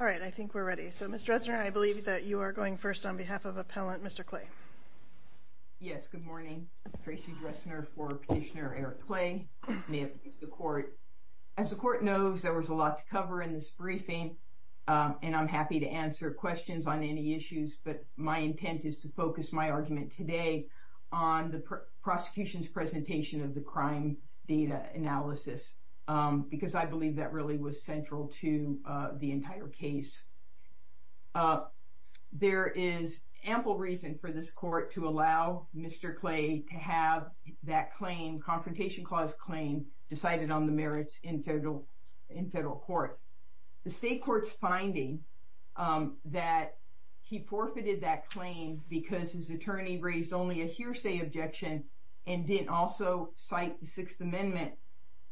All right, I think we're ready. So, Ms. Dressner, I believe that you are going first on behalf of Appellant Mr. Clay. Yes, good morning. I'm Tracy Dressner for Petitioner Eric Clay. As the court knows, there was a lot to cover in this briefing, and I'm happy to answer questions on any issues, but my intent is to focus my argument today on the prosecution's presentation of the crime data analysis because I believe that really was central to the entire case. There is ample reason for this court to allow Mr. Clay to have that claim, confrontation clause claim, decided on the merits in federal court. The state court's finding that he forfeited that claim because his attorney raised only a hearsay objection and didn't also cite the Sixth Amendment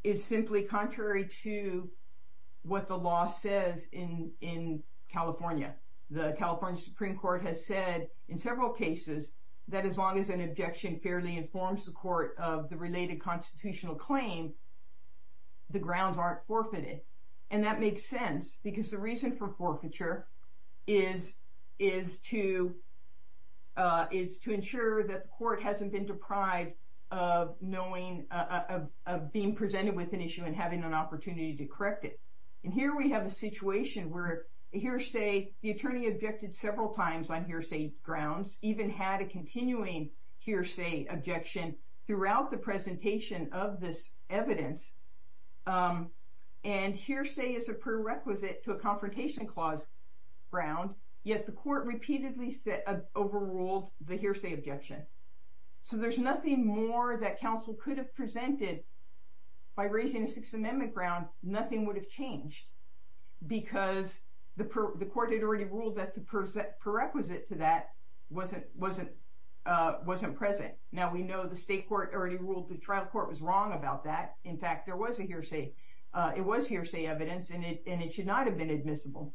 is simply contrary to what the law says in California. The California Supreme Court has said in several cases that as long as an objection fairly informs the court of the related constitutional claim, the grounds aren't forfeited. And that makes sense because the reason for forfeiture is to ensure that the court hasn't been deprived of knowing, of being presented with an issue and having an opportunity to correct it. And here we have a situation where hearsay, the attorney objected several times on hearsay grounds, even had a continuing hearsay objection throughout the presentation of this evidence. And hearsay is a prerequisite to a confrontation clause ground, yet the court repeatedly overruled the hearsay objection. So there's nothing more that counsel could have presented by raising a Sixth Amendment ground, nothing would have changed because the court had already ruled that the prerequisite to that wasn't present. Now we know the state court already ruled the trial court was wrong about that. In fact, there was a hearsay, it was hearsay evidence and it should not have been admissible.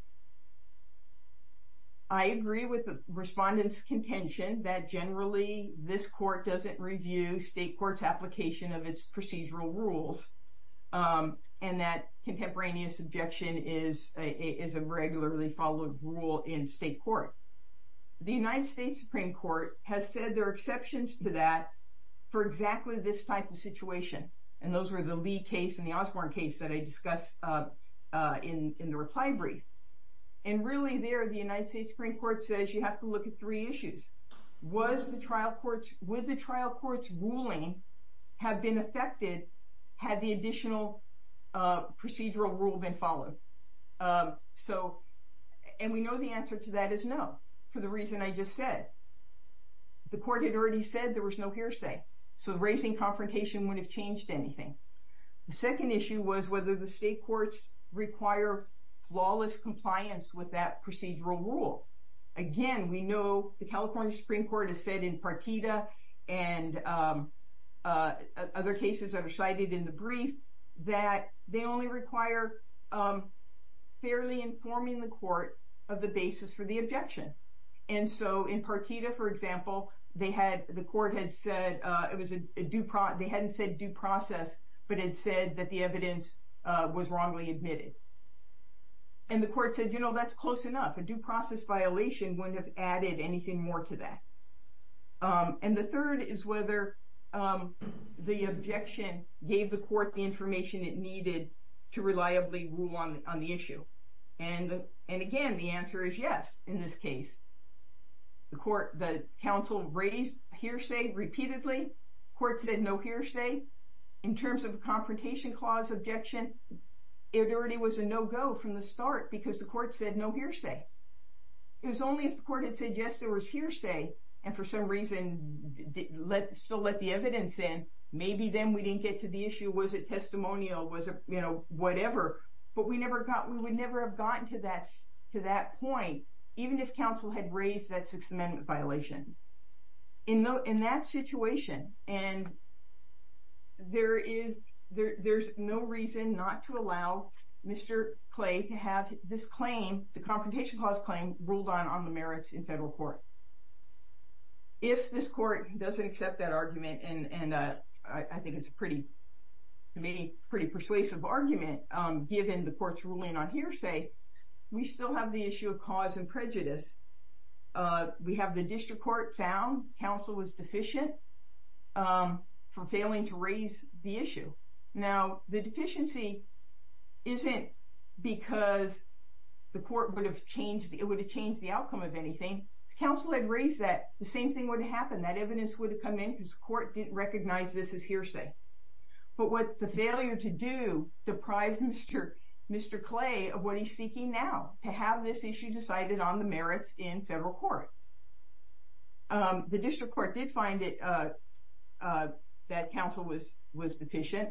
I agree with the respondent's contention that generally this court doesn't review state court's application of its procedural rules and that contemporaneous objection is a regularly followed rule in state court. The United States Supreme Court has said there are exceptions to that for exactly this type of situation. And those were the Lee case and the Osborne case that I discussed in the reply brief. And really there, the United States Supreme Court says you have to look at three issues. Would the trial court's ruling have been affected had the additional procedural rule been followed? And we know the answer to that is no, for the reason I just said. The court had already said there was no hearsay, so raising confrontation wouldn't have changed anything. The second issue was whether the state courts require flawless compliance with that procedural rule. Again, we know the California Supreme Court has said in Partita and other cases that are cited in the brief that they only require fairly informing the court of the basis for the objection. And so in Partita, for example, they hadn't said due process, but it said that the evidence was wrongly admitted. And the court said, you know, that's close enough. A due process violation wouldn't have added anything more to that. And the third is whether the objection gave the court the information it needed to reliably rule on the issue. And again, the answer is yes in this case. The counsel raised hearsay repeatedly. The court said no hearsay. In terms of a confrontation clause objection, it already was a no-go from the start because the court said no hearsay. It was only if the court had said yes, there was hearsay, and for some reason still let the evidence in, maybe then we didn't get to the issue. Was it testimonial? Was it, you know, whatever. But we would never have gotten to that point, even if counsel had raised that Sixth Amendment violation. In that situation, and there's no reason not to allow Mr. Clay to have this claim, the confrontation clause claim, ruled on on the merits in federal court. If this court doesn't accept that argument, and I think it's a pretty persuasive argument, given the court's ruling on hearsay, we still have the issue of cause and prejudice. We have the district court found counsel was deficient for failing to raise the issue. Now, the deficiency isn't because the court would have changed the outcome of anything. If counsel had raised that, the same thing would have happened. That evidence would have come in because the court didn't recognize this as hearsay. But what the failure to do deprived Mr. Clay of what he's seeking now, to have this issue decided on the merits in federal court. The district court did find that counsel was deficient.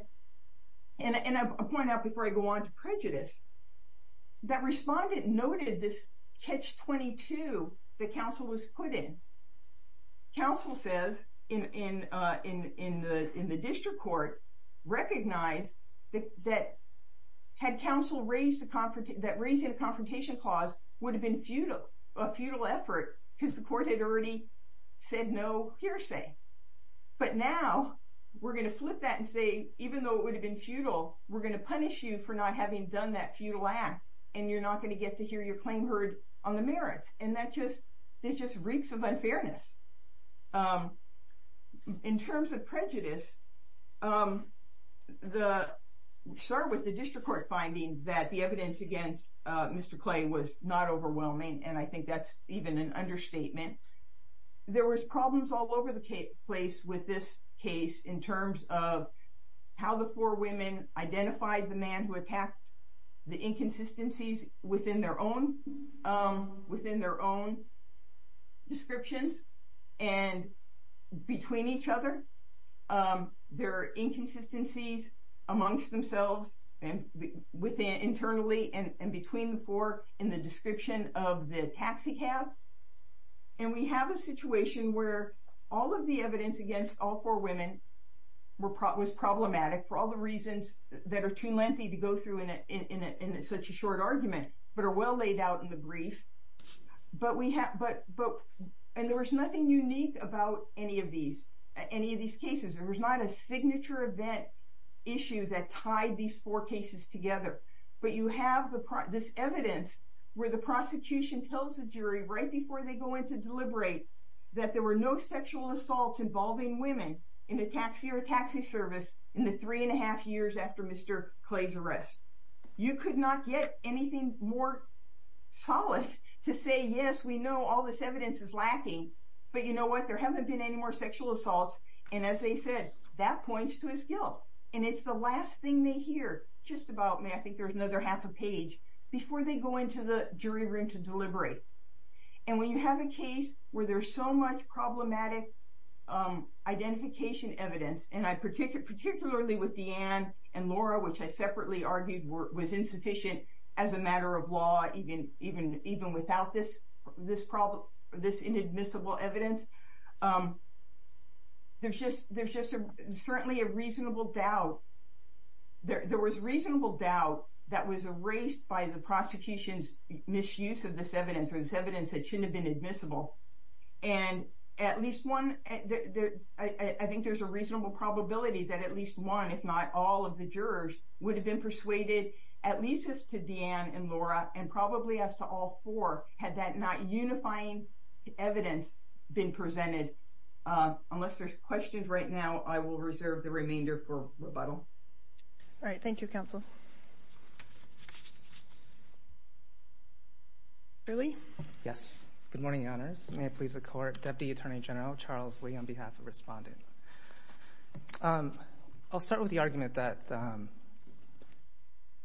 And I'll point out before I go on to prejudice, that respondent noted this catch-22 that counsel was put in. Counsel says, in the district court, recognized that raising a confrontation clause would have been a futile effort because the court had already said no hearsay. But now, we're going to flip that and say, even though it would have been futile, we're going to punish you for not having done that futile act, and you're not going to get to hear your claim heard on the merits. And that just reeks of unfairness. In terms of prejudice, we start with the district court finding that the evidence against Mr. Clay was not overwhelming, and I think that's even an understatement. There was problems all over the place with this case in terms of how the four women identified the man who attacked, the inconsistencies within their own descriptions, and between each other. There are inconsistencies amongst themselves, internally and between the four, in the description of the taxi cab. And we have a situation where all of the evidence against all four women was problematic for all the reasons that are too lengthy to go through in such a short argument, but are well laid out in the brief. And there was nothing unique about any of these cases. There was not a signature event issue that tied these four cases together. But you have this evidence where the prosecution tells the jury right before they go in to deliberate that there were no sexual assaults involving women in the taxi or taxi service in the three and a half years after Mr. Clay's arrest. You could not get anything more solid to say, yes, we know all this evidence is lacking, but you know what, there haven't been any more sexual assaults. And as they said, that points to his guilt. And it's the last thing they hear, just about, I think there's another half a page, before they go into the jury room to deliberate. And when you have a case where there's so much problematic identification evidence, and particularly with Deanne and Laura, which I separately argued was insufficient as a matter of law, even without this inadmissible evidence, there's just certainly a reasonable doubt. There was reasonable doubt that was erased by the prosecution's misuse of this evidence, or this evidence that shouldn't have been admissible. And at least one, I think there's a reasonable probability that at least one, if not all of the jurors would have been persuaded, at least as to Deanne and Laura, and probably as to all four, had that not unifying evidence been presented. Unless there's questions right now, I will reserve the remainder for rebuttal. All right, thank you, counsel. Yes, good morning, Your Honors. May it please the Court. Deputy Attorney General Charles Lee on behalf of Respondent. I'll start with the argument that,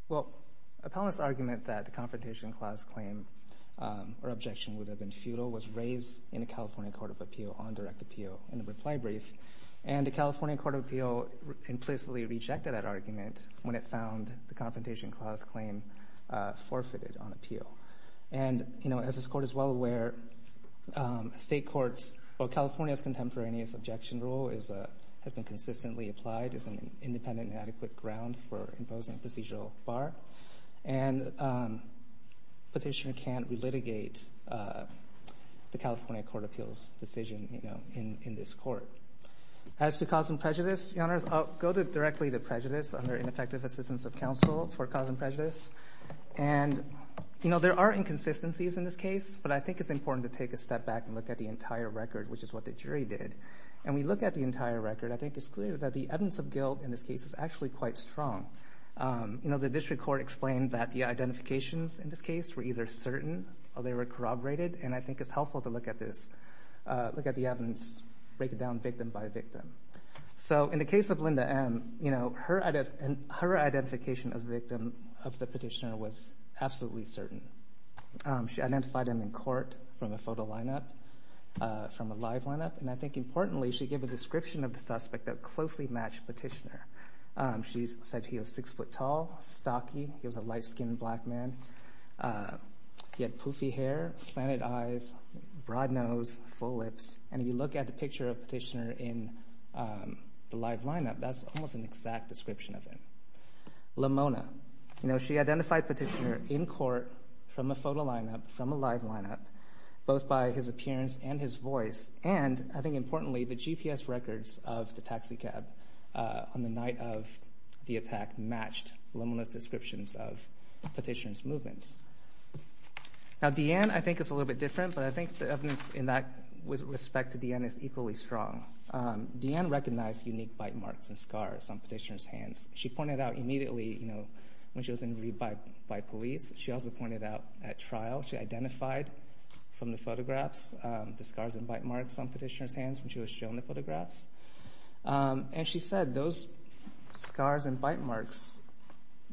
well, appellant's argument that the Confrontation Clause claim or objection would have been futile was raised in the California Court of Appeal on direct appeal in a reply brief. And the California Court of Appeal implicitly rejected that argument when it found the Confrontation Clause claim forfeited on appeal. And, you know, as this Court is well aware, State courts, well, California's contemporaneous objection rule has been consistently applied as an independent and adequate ground for imposing procedural bar. And Petitioner can't relitigate the California Court of Appeal's decision, you know, in this Court. As to cause and prejudice, Your Honors, I'll go directly to prejudice under ineffective assistance of counsel for cause and prejudice. And, you know, there are inconsistencies in this case, but I think it's important to take a step back and look at the entire record, which is what the jury did. And we look at the entire record, I think it's clear that the evidence of guilt in this case is actually quite strong. You know, the district court explained that the identifications in this case were either certain or they were corroborated. And I think it's helpful to look at this, look at the evidence, break it down victim by victim. So in the case of Linda M., you know, her identification as a victim of the Petitioner was absolutely certain. She identified him in court from a photo lineup, from a live lineup. And I think, importantly, she gave a description of the suspect that closely matched Petitioner. She said he was six foot tall, stocky, he was a light-skinned black man. He had poofy hair, slanted eyes, broad nose, full lips. And if you look at the picture of Petitioner in the live lineup, that's almost an exact description of him. Lamona, you know, she identified Petitioner in court from a photo lineup, from a live lineup, both by his appearance and his voice. And I think, importantly, the GPS records of the taxi cab on the night of the attack Now Deanne, I think, is a little bit different, but I think the evidence in that with respect to Deanne is equally strong. Deanne recognized unique bite marks and scars on Petitioner's hands. She pointed out immediately, you know, when she was injured by police. She also pointed out at trial she identified from the photographs the scars and bite marks on Petitioner's hands when she was shown the photographs. And she said those scars and bite marks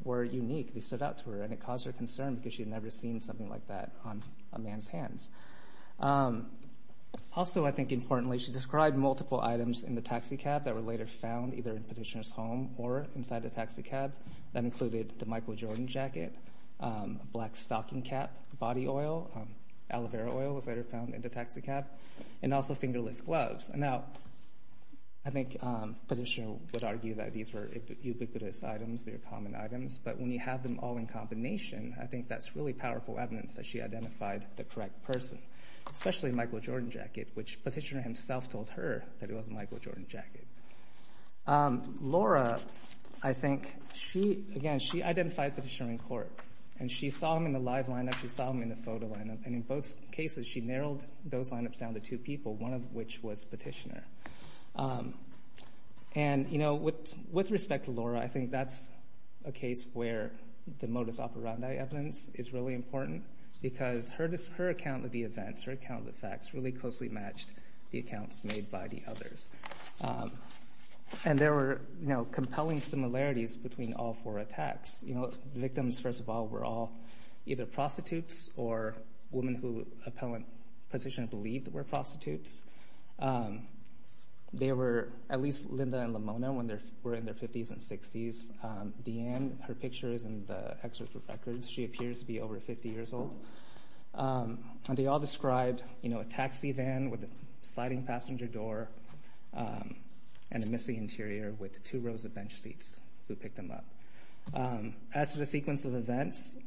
were unique. They stood out to her, and it caused her concern, because she had never seen something like that on a man's hands. Also, I think, importantly, she described multiple items in the taxi cab that were later found either in Petitioner's home or inside the taxi cab. That included the Michael Jordan jacket, a black stocking cap, body oil, aloe vera oil was later found in the taxi cab, and also fingerless gloves. Now, I think Petitioner would argue that these were ubiquitous items. But when you have them all in combination, I think that's really powerful evidence that she identified the correct person, especially Michael Jordan jacket, which Petitioner himself told her that it was a Michael Jordan jacket. Laura, I think, again, she identified Petitioner in court, and she saw him in the live lineup, she saw him in the photo lineup, and in both cases she narrowed those lineups down to two people, one of which was Petitioner. And, you know, with respect to Laura, I think that's a case where the modus operandi evidence is really important, because her account of the events, her account of the facts, really closely matched the accounts made by the others. And there were compelling similarities between all four attacks. Victims, first of all, were all either prostitutes or women who Petitioner believed were prostitutes. They were at least Linda and Lamona when they were in their 50s and 60s. Deanne, her picture is in the excerpt of records. She appears to be over 50 years old. And they all described, you know, a taxi van with a sliding passenger door and a messy interior with two rows of bench seats. Who picked them up? As for the sequence of events,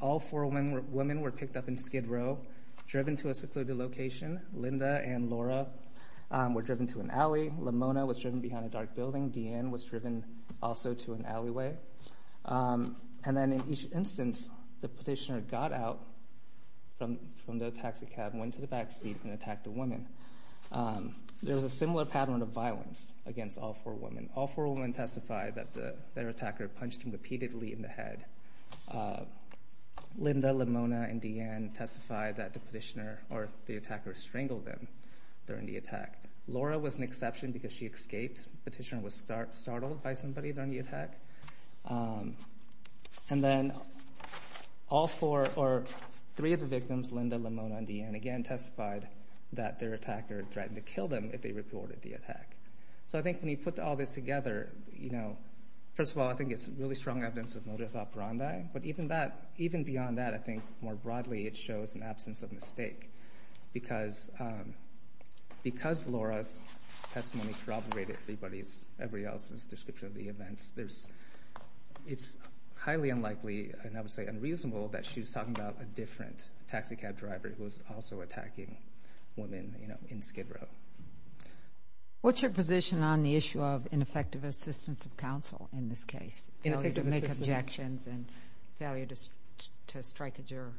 all four women were picked up in skid row, driven to a secluded location. Linda and Laura were driven to an alley. Lamona was driven behind a dark building. Deanne was driven also to an alleyway. And then in each instance, the Petitioner got out from the taxi cab, went to the back seat, and attacked the women. There was a similar pattern of violence against all four women. All four women testified that their attacker punched them repeatedly in the head. Linda, Lamona, and Deanne testified that the Petitioner or the attacker strangled them during the attack. Laura was an exception because she escaped. The Petitioner was startled by somebody during the attack. And then all four or three of the victims, Linda, Lamona, and Deanne, again, testified that their attacker threatened to kill them if they reported the attack. So I think when you put all this together, you know, first of all, I think it's really strong evidence of modus operandi. But even beyond that, I think more broadly it shows an absence of mistake because Laura's testimony corroborated everybody else's description of the events. It's highly unlikely, and I would say unreasonable, that she was talking about a different taxi cab driver who was also attacking women, you know, in skid row. What's your position on the issue of ineffective assistance of counsel in this case? Ineffective assistance. Failure to make objections and failure to strike a juror.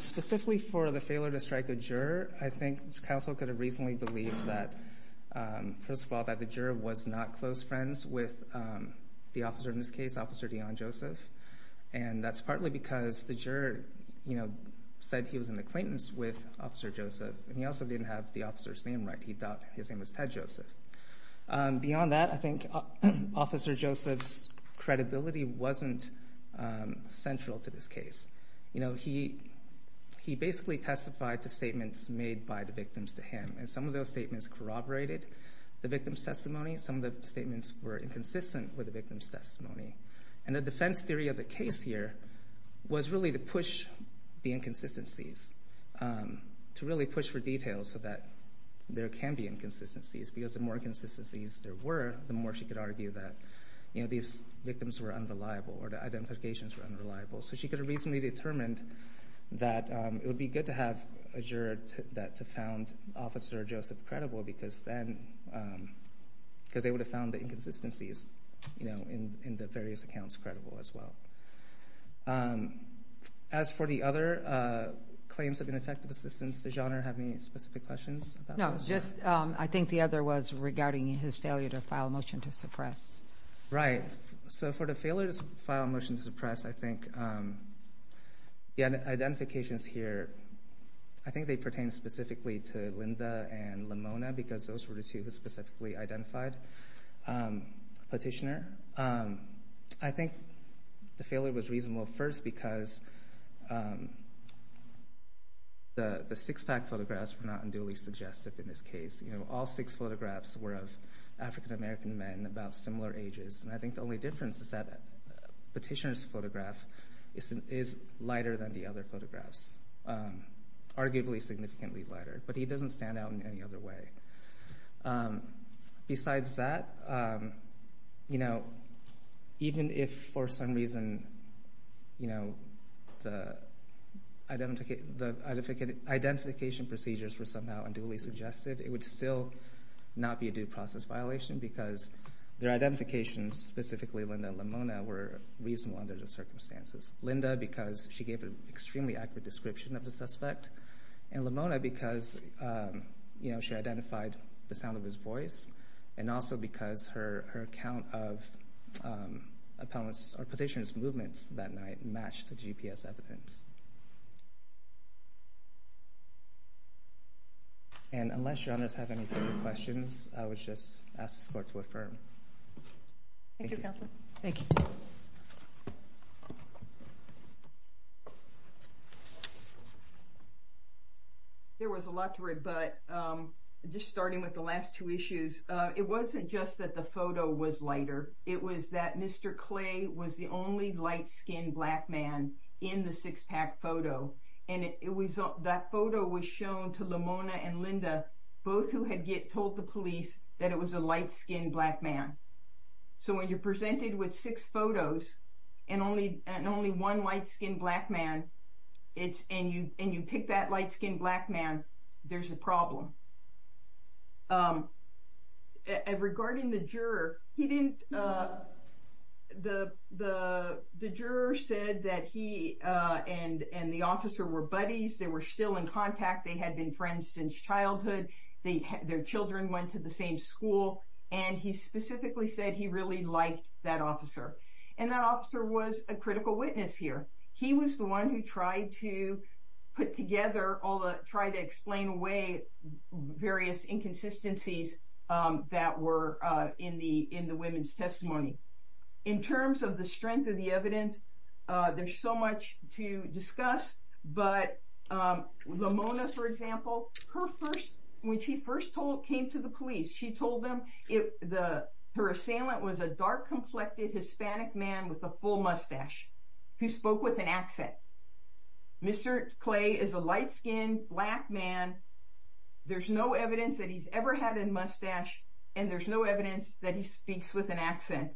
Specifically for the failure to strike a juror, I think counsel could have reasonably believed that, first of all, that the juror was not close friends with the officer in this case, Officer Deanne Joseph. And that's partly because the juror, you know, said he was an acquaintance with Officer Joseph. And he also didn't have the officer's name right. He thought his name was Ted Joseph. Beyond that, I think Officer Joseph's credibility wasn't central to this case. You know, he basically testified to statements made by the victims to him. And some of those statements corroborated the victim's testimony. Some of the statements were inconsistent with the victim's testimony. And the defense theory of the case here was really to push the inconsistencies, to really push for details so that there can be inconsistencies. Because the more inconsistencies there were, the more she could argue that, you know, these victims were unreliable or the identifications were unreliable. So she could have reasonably determined that it would be good to have a juror that found Officer Joseph credible because then they would have found the inconsistencies, you know, in the various accounts credible as well. As for the other claims of ineffective assistance, does Your Honor have any specific questions? No, just I think the other was regarding his failure to file a motion to suppress. Right. So for the failure to file a motion to suppress, I think the identifications here, I think they pertain specifically to Linda and Lamona because those were the two who specifically identified the petitioner. I think the failure was reasonable first because the six-pack photographs were not unduly suggestive in this case. You know, all six photographs were of African-American men about similar ages. And I think the only difference is that the petitioner's photograph is lighter than the other photographs, arguably significantly lighter, but he doesn't stand out in any other way. Besides that, you know, even if for some reason, you know, the identification procedures were somehow unduly suggestive, it would still not be a due process violation because their identifications, specifically Linda and Lamona, were reasonable under the circumstances. Linda because she gave an extremely accurate description of the suspect, and Lamona because, you know, she identified the sound of his voice, and also because her account of a petitioner's movements that night matched the GPS evidence. And unless your honors have any further questions, I would just ask this court to affirm. Thank you. There was a lot to rebut, just starting with the last two issues. It wasn't just that the photo was lighter. It was that Mr. Clay was the only light-skinned black man in the six-pack photo. And that photo was shown to Lamona and Linda, both who had told the police that it was a light-skinned black man. So when you're presented with six photos and only one light-skinned black man, and you pick that light-skinned black man, there's a problem. Regarding the juror, the juror said that he and the officer were buddies. They were still in contact. They had been friends since childhood. Their children went to the same school. And he specifically said he really liked that officer. And that officer was a critical witness here. He was the one who tried to put together, tried to explain away various inconsistencies that were in the women's testimony. In terms of the strength of the evidence, there's so much to discuss. But Lamona, for example, when she first came to the police, she told them her assailant was a dark-complected Hispanic man with a full mustache who spoke with an accent. Mr. Clay is a light-skinned black man. There's no evidence that he's ever had a mustache. And there's no evidence that he speaks with an accent.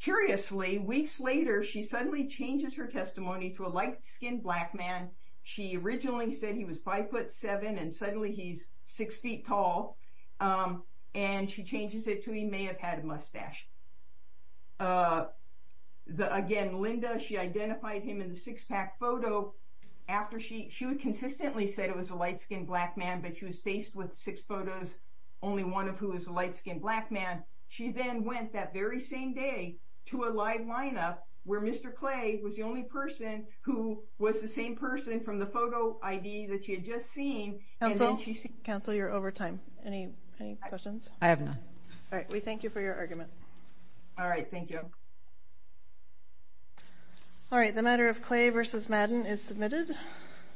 Curiously, weeks later, she suddenly changes her testimony to a light-skinned black man. She originally said he was 5'7", and suddenly he's 6 feet tall. And she changes it to he may have had a mustache. Again, Linda, she identified him in the six-pack photo. She consistently said it was a light-skinned black man, but she was faced with six photos, only one of who was a light-skinned black man. She then went that very same day to a live lineup where Mr. Clay was the only person who was the same person from the photo ID that she had just seen. Counsel, you're over time. Any questions? I have none. All right. We thank you for your argument. All right. Thank you. All right. The matter of Clay v. Madden is submitted.